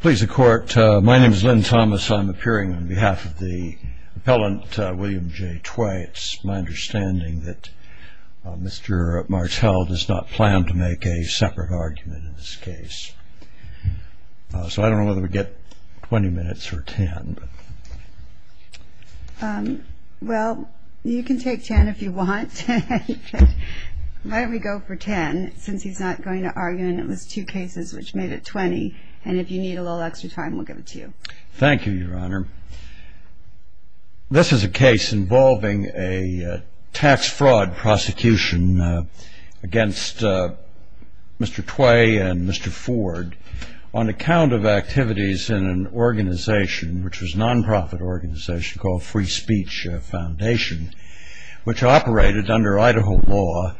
please the court my name is Lynn Thomas I'm appearing on behalf of the appellant William J twice my understanding that mr. Martel does not plan to make a separate argument in this case so I don't know whether we get 20 minutes or 10 well you can take 10 if you want why don't we go for 10 since he's not going to argue and it was two cases which made it 20 and if you need a little extra time we'll give it to you thank you your honor this is a case involving a tax fraud prosecution against mr. Tway and mr. Ford on account of activities in an organization which was nonprofit organization called free speech foundation which operated under Idaho law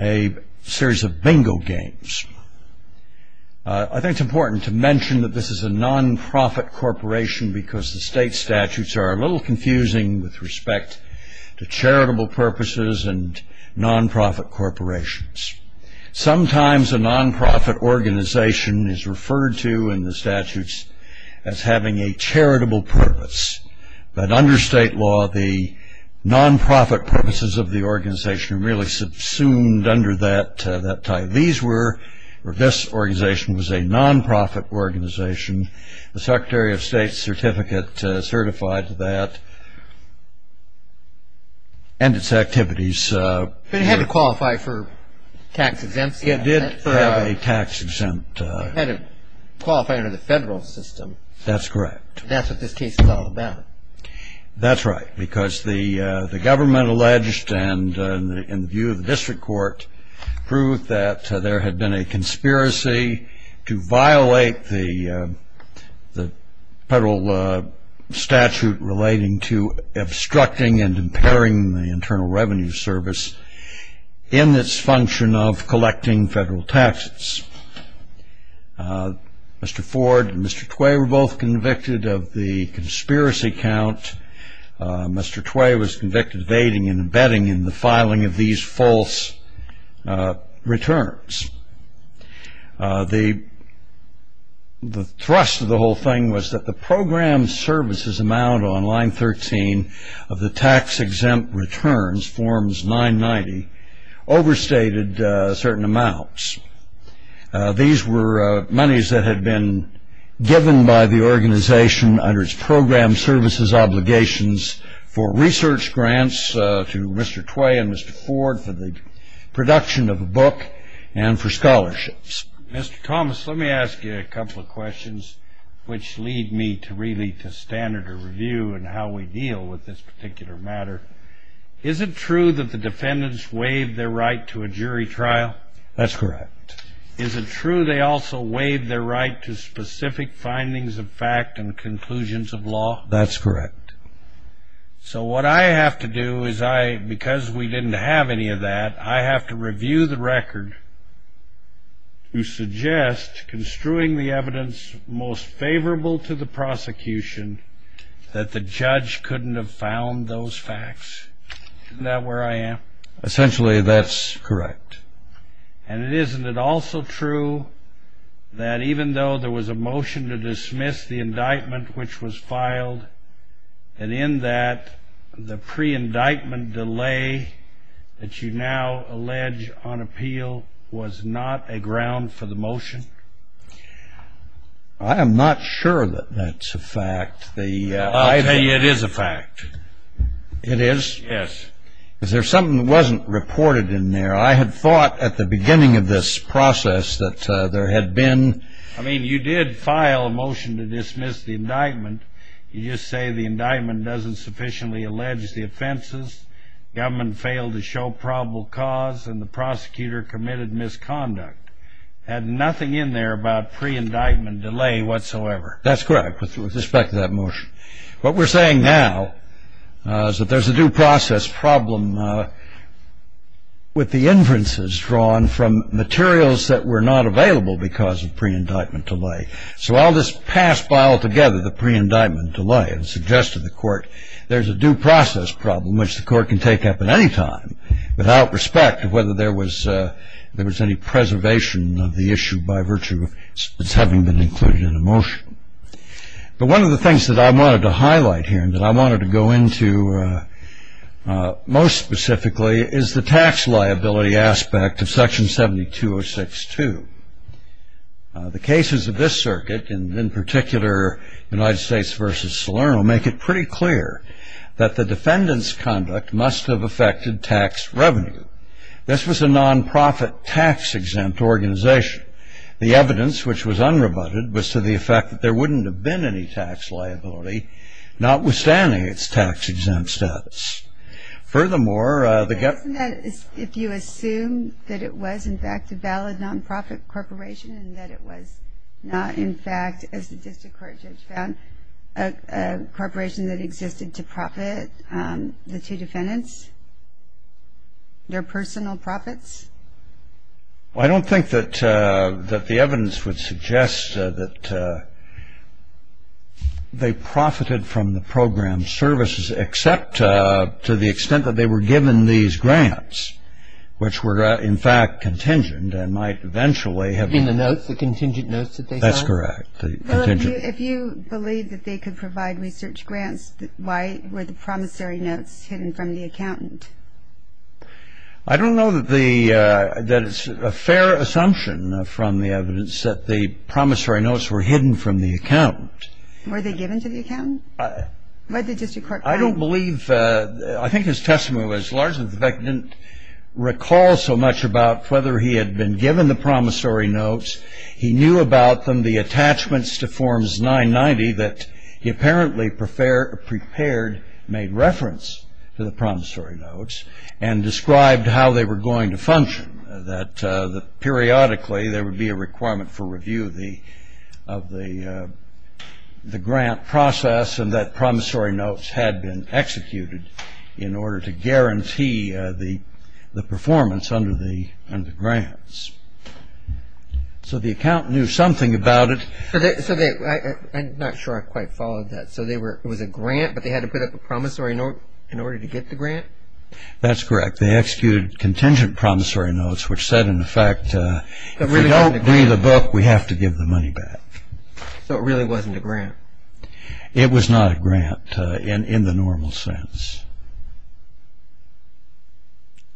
a series of bingo games I think it's important to mention that this is a nonprofit corporation because the state statutes are a little confusing with respect to charitable purposes and nonprofit corporations sometimes a nonprofit organization is referred to in the statutes as having a charitable purpose but under state law the nonprofit purposes of the organization really subsumed under that that time these were or this organization was a nonprofit organization the Secretary of State certificate certified that and its activities had to qualify for tax exempt it did have a tax exempt qualify under the federal system that's correct that's what this case is all about that's right because the the government alleged and in the view of the district court proved that there had been a conspiracy to violate the the federal statute relating to obstructing and impairing the Internal Revenue Service in this function of collecting federal taxes mr. Ford and mr. Tway were both convicted of the conspiracy count mr. Tway was convicted of aiding and abetting in the filing of these false returns the the thrust of the whole thing was that the program services amount on line 13 of the tax-exempt returns forms 990 overstated certain amounts these were monies that had been given by the organization under its program services obligations for research grants to mr. Tway and mr. Ford for the production of a book and for scholarships mr. Thomas let me ask you a couple of questions which lead me to really to standard a review and how we deal with this particular matter is it true that the defendants waived their right to a jury trial that's correct is it true they also waived their right to specific findings of fact and conclusions of law that's correct so what I have to do is I because we didn't have any of that I have to review the record you suggest construing the evidence most favorable to the prosecution that the correct and it isn't it also true that even though there was a motion to dismiss the indictment which was filed and in that the pre indictment delay that you now allege on appeal was not a ground for the motion I am not sure that that's a fact the idea it is a fact it is yes is there something wasn't reported in there I had thought at the beginning of this process that there had been I mean you did file a motion to dismiss the indictment you just say the indictment doesn't sufficiently allege the offenses government failed to show probable cause and the prosecutor committed misconduct had nothing in there about pre indictment delay whatsoever that's correct with respect to that motion what we're saying now is that there's a due process problem with the inferences drawn from materials that were not available because of pre indictment delay so I'll just pass file together the pre indictment delay and suggest to the court there's a due process problem which the court can take up at any time without respect of whether there was there was any preservation of the issue by virtue of its having been included in a motion but one of the things that I wanted to highlight here and that I wanted to go into most specifically is the tax liability aspect of section 72062 the cases of this circuit and in particular United States versus Salerno make it pretty clear that the defendants conduct must have affected tax revenue this was a non-profit tax exempt organization the evidence which was unrebutted was to the liability notwithstanding its tax exempt status furthermore the government if you assume that it was in fact a valid non-profit corporation and that it was not in fact as the district court judge found a corporation that existed to profit the two defendants their personal profits I don't think that that the evidence would suggest that they profited from the program services except to the extent that they were given these grants which were in fact contingent and might eventually have been the notes the contingent notes that they that's correct if you believe that they could provide research grants why were the promissory notes hidden from the accountant I don't know that the that it's a fair assumption from the evidence that the promissory notes were hidden from the accountant were they given to the accountant? I don't believe I think his testimony was largely that he didn't recall so much about whether he had been given the promissory notes he knew about them the attachments to forms 990 that he apparently prepared made reference to the promissory notes and periodically there would be a requirement for review the of the the grant process and that promissory notes had been executed in order to guarantee the performance under the grants so the account knew something about it I'm not sure I quite followed that so they were it was a grant but they had to put up a promissory note in order to get the grant that's correct they executed contingent promissory notes which said in fact that we don't read the book we have to give the money back so it really wasn't a grant it was not a grant in in the normal sense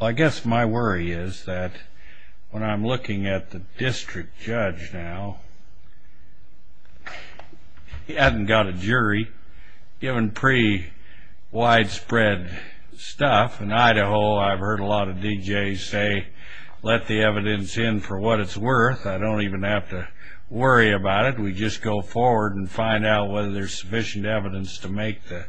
I guess my worry is that when I'm looking at the district judge now he hadn't got a jury given pre widespread stuff in Idaho I've heard a DJ say let the evidence in for what it's worth I don't even have to worry about it we just go forward and find out whether there's sufficient evidence to make the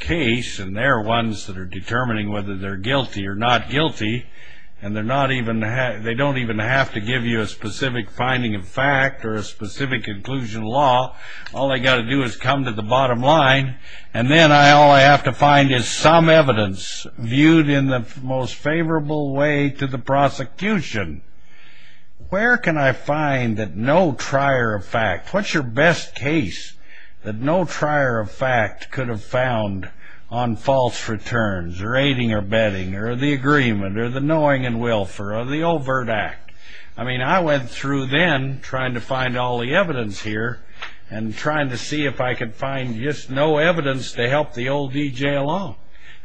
case and they're ones that are determining whether they're guilty or not guilty and they're not even have they don't even have to give you a specific finding of fact or a specific inclusion law all I got to do is come to the bottom line and then I all I have to find is some evidence viewed in the most favorable way to the prosecution where can I find that no trier of fact what's your best case that no trier of fact could have found on false returns rating or betting or the agreement or the knowing and will for the overt act I mean I went through then trying to find all the evidence here and trying to see if I could find just no evidence to help the old DJ along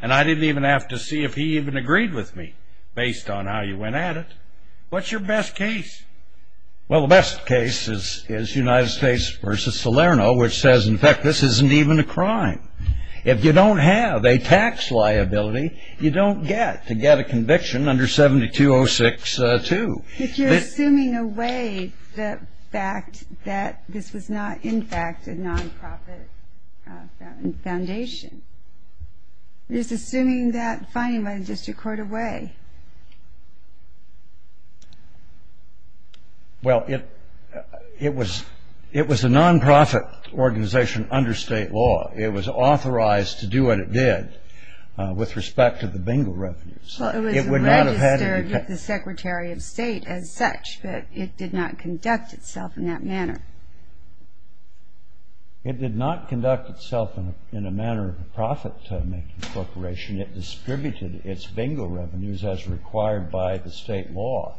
and I didn't even have to see if he even agreed with me based on how you went at it what's your best case well the best case is is United States versus Salerno which says in fact this isn't even a crime if you don't have a tax liability you don't get to get a conviction under 7206 to assuming away the fact that this was not in fact a non-profit foundation is assuming that finding by the district court away well it it was it was a non-profit organization under state law it was authorized to do what it did with respect to the bingo revenues it would not have had the Secretary of State as such but it did not conduct itself in that manner it did not conduct itself in a manner of profit-making corporation it distributed its bingo revenues as required by the state law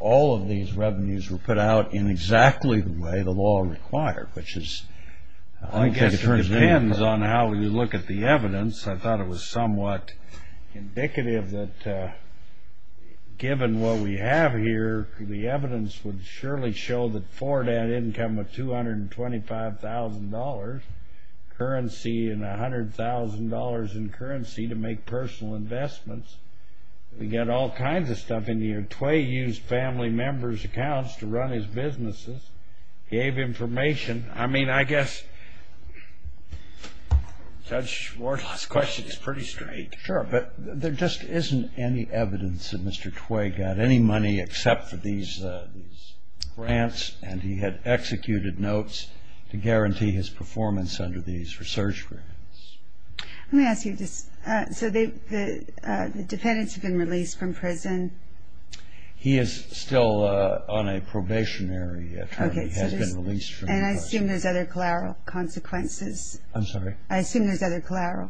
all of these revenues were put out in exactly the way the law required which is I guess depends on how you look at the evidence I thought it was somewhat indicative that given what we have here the evidence would surely show that for that income of $225,000 currency and $100,000 in currency to make personal investments we get all kinds of stuff in here Tway used family members accounts to run his businesses gave information I mean I guess judge Wardlaw's question is pretty straight sure but there just isn't any evidence that Mr. Tway got any money except for these grants and he had executed notes to guarantee his performance under these research grants let me ask you this so the defendants have been released from prison he is still on a probationary and I assume there's other collateral consequences I'm sorry I assume there's other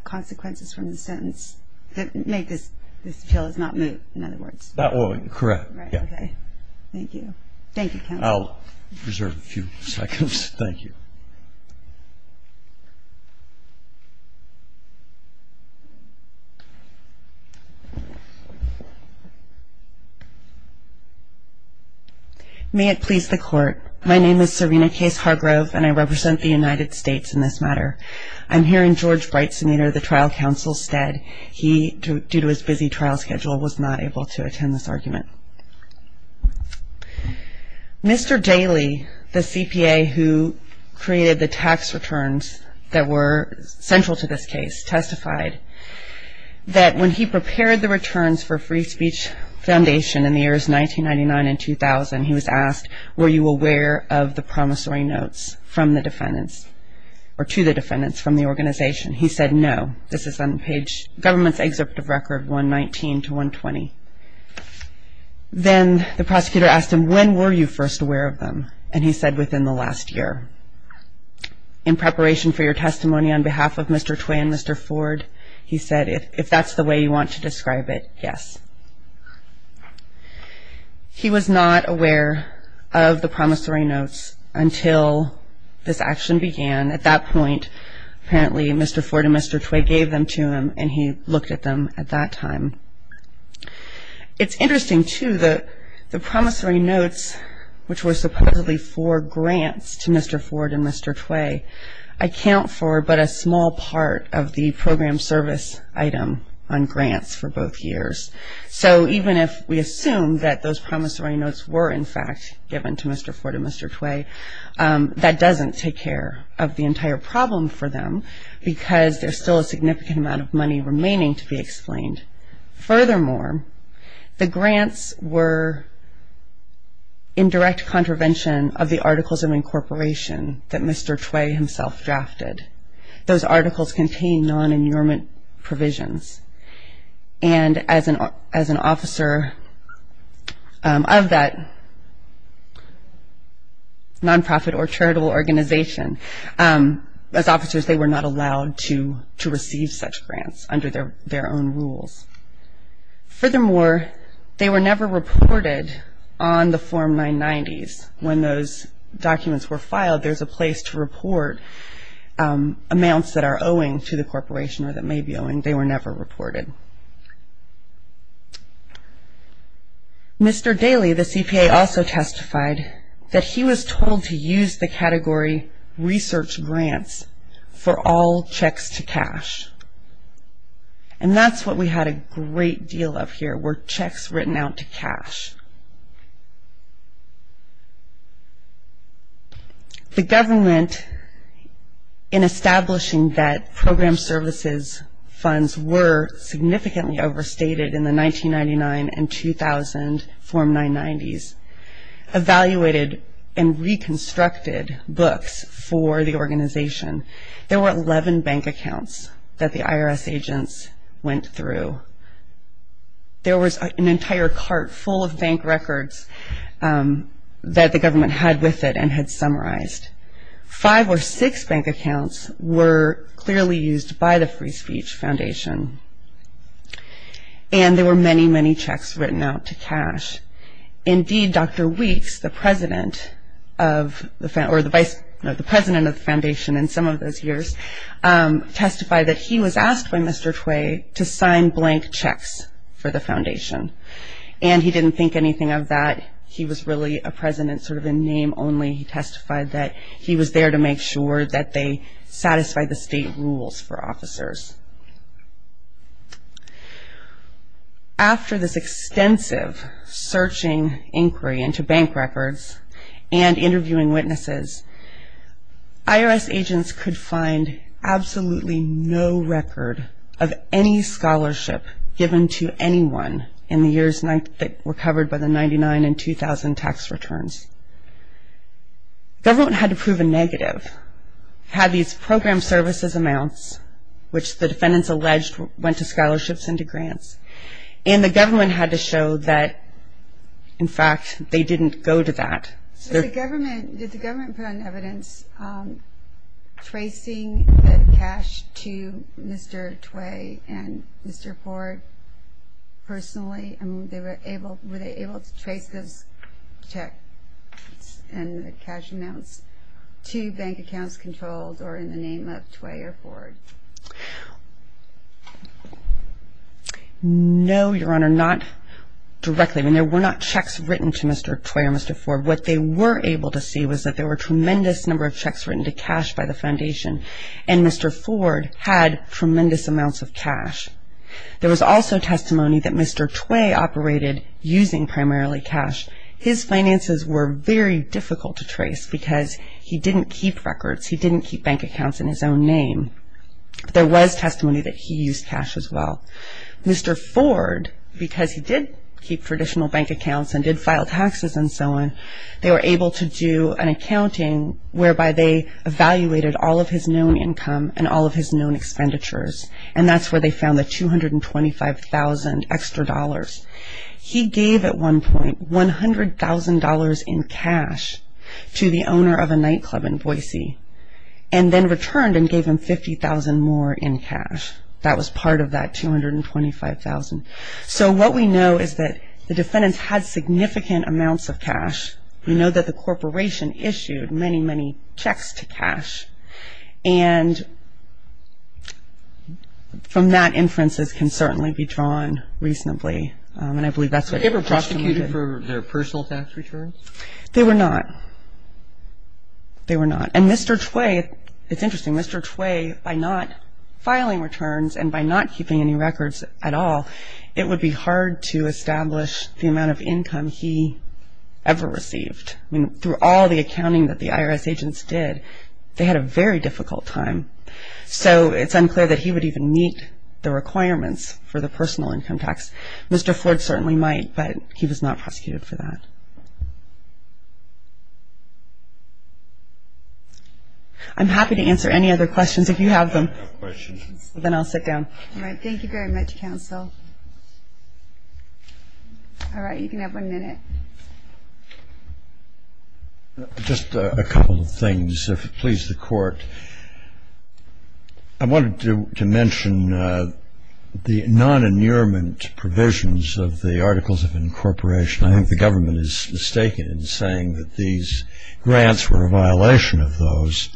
consequences from the sentence that make this this bill is not moved in other words that will correct yeah okay thank you thank you I'll reserve a few seconds thank you may it please the court my name is Serena case Hargrove and I represent the trial counsel said he due to his busy trial schedule was not able to attend this argument mr. Daly the CPA who created the tax returns that were central to this case testified that when he prepared the returns for free speech foundation in the years 1999 and 2000 he was asked were you aware of the promissory notes from the defendants or to the defendants from the organization he said no this is on page government's excerpt of record 119 to 120 then the prosecutor asked him when were you first aware of them and he said within the last year in preparation for your testimony on behalf of mr. Tway and mr. Ford he said if that's the way you want to describe it yes he was not aware of the promissory notes until this action began at that point apparently mr. Ford and mr. Tway gave them to him and he looked at them at that time it's interesting to the the promissory notes which were supposedly for grants to mr. Ford and mr. Tway I count for but a small part of the program service item on grants for both years so even if we assume that those promissory notes were in fact given to mr. Ford and mr. Tway that doesn't take care of the entire problem for them because there's still a significant amount of money remaining to be explained furthermore the grants were in direct contravention of the articles of incorporation that mr. Tway himself drafted those articles contain non officer of that nonprofit or charitable organization as officers they were not allowed to to receive such grants under their their own rules furthermore they were never reported on the form 990s when those documents were filed there's a place to report amounts that are owing to the corporation or that may be owing they were never reported mr. Daly the CPA also testified that he was told to use the category research grants for all checks to cash and that's what we had a great deal of here were checks written out to cash the government in were significantly overstated in the 1999 and 2000 form 990s evaluated and reconstructed books for the organization there were 11 bank accounts that the IRS agents went through there was an entire cart full of bank records that the government had with it and had summarized five or six bank accounts were clearly used by the free speech foundation and there were many many checks written out to cash indeed Dr. Weeks the president of the president of the foundation in some of those years testified that he was asked by Mr. Tway to sign blank checks for the foundation and he didn't think anything of that he was really a president sort of a name only testified that he was there to make sure that they satisfy the state rules for officers after this extensive searching inquiry into bank records and interviewing witnesses IRS agents could find absolutely no record of any scholarship given to anyone in the years that were covered by the 99 and 2000 tax returns government had to prove a negative had these program services amounts which the defendants alleged went to scholarships into grants and the government had to show that in fact they were able to trace this check and cash amounts to bank accounts controlled or in the name of Tway or Ford no your honor not directly when there were not checks written to Mr. Tway or Mr. Ford what they were able to see was that there were tremendous number of checks written to cash by the foundation and Mr. Ford had tremendous amounts of cash there was also testimony that Mr. Tway operated using primarily cash his finances were very difficult to trace because he didn't keep records he didn't keep bank accounts in his own name there was testimony that he used cash as well Mr. Ford because he did keep traditional bank accounts and did file taxes and so on they were able to do an accounting whereby they evaluated all of his known income and all of his known expenditures and that's where they found the $225,000 extra dollars he gave at one point $100,000 in cash to the owner of a nightclub in Boise and then returned and gave him $50,000 more in cash that was part of that $225,000 so what we know is that the defendants had significant amounts of cash you know that the corporation issued many many checks to cash and from that inferences can certainly be drawn reasonably and I believe that's what ever prosecuted for their personal tax returns they were not they were not and Mr. Tway it's interesting Mr. Tway by not filing returns and by not keeping any records at all it would be hard to establish the amount of income he ever received through all the accounting that the IRS agents did they had a very difficult time so it's unclear that he would even meet the requirements for the personal income tax Mr. Ford certainly might but he was not prosecuted for that I'm happy to answer any other questions if you have them then I'll sit down thank you very much counsel all right you can have one minute just a couple of things if it please the court I wanted to mention the non-annealment provisions of the Articles of Incorporation I think the government is mistaken in saying that these grants were a violation of those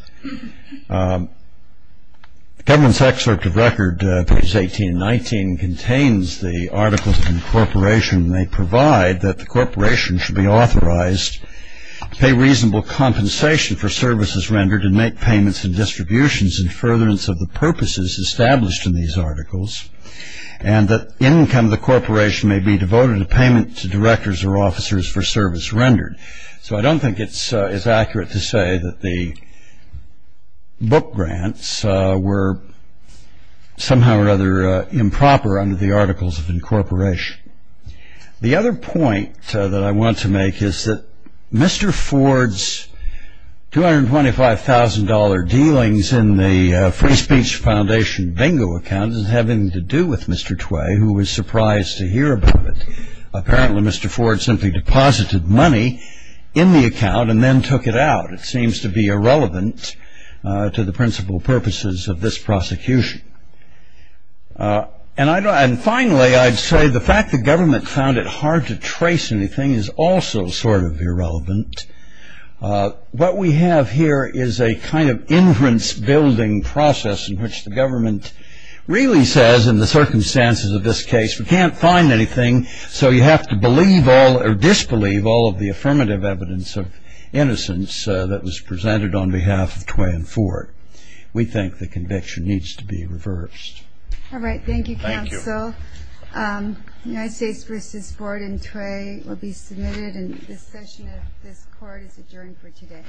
government's excerpt of record page 18 and 19 contains the Articles of Incorporation they provide that the corporation should be authorized pay reasonable compensation for services rendered and make payments and distributions and furtherance of the purposes established in these articles and that income the corporation may be I don't think it's as accurate to say that the book grants were somehow or other improper under the Articles of Incorporation the other point that I want to make is that Mr. Ford's $225,000 dealings in the free speech foundation bingo account is having to do with Mr. Tway who was surprised to hear about it apparently Mr. Ford simply deposited money in the account and then took it out it seems to be irrelevant to the principal purposes of this prosecution and finally I'd say the fact the government found it hard to trace anything is also sort of irrelevant what we have here is a kind of inference building process in which the government really says in the circumstances of this case we can't find anything so you have to believe all or disbelieve all of the affirmative evidence of innocence that was presented on behalf of Tway and Ford we think the conviction needs to be reversed all right thank you counsel United States v. Ford and Tway will be submitted and this session of this court is adjourned for today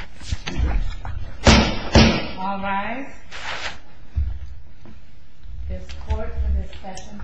all rise this court for this session stands adjourned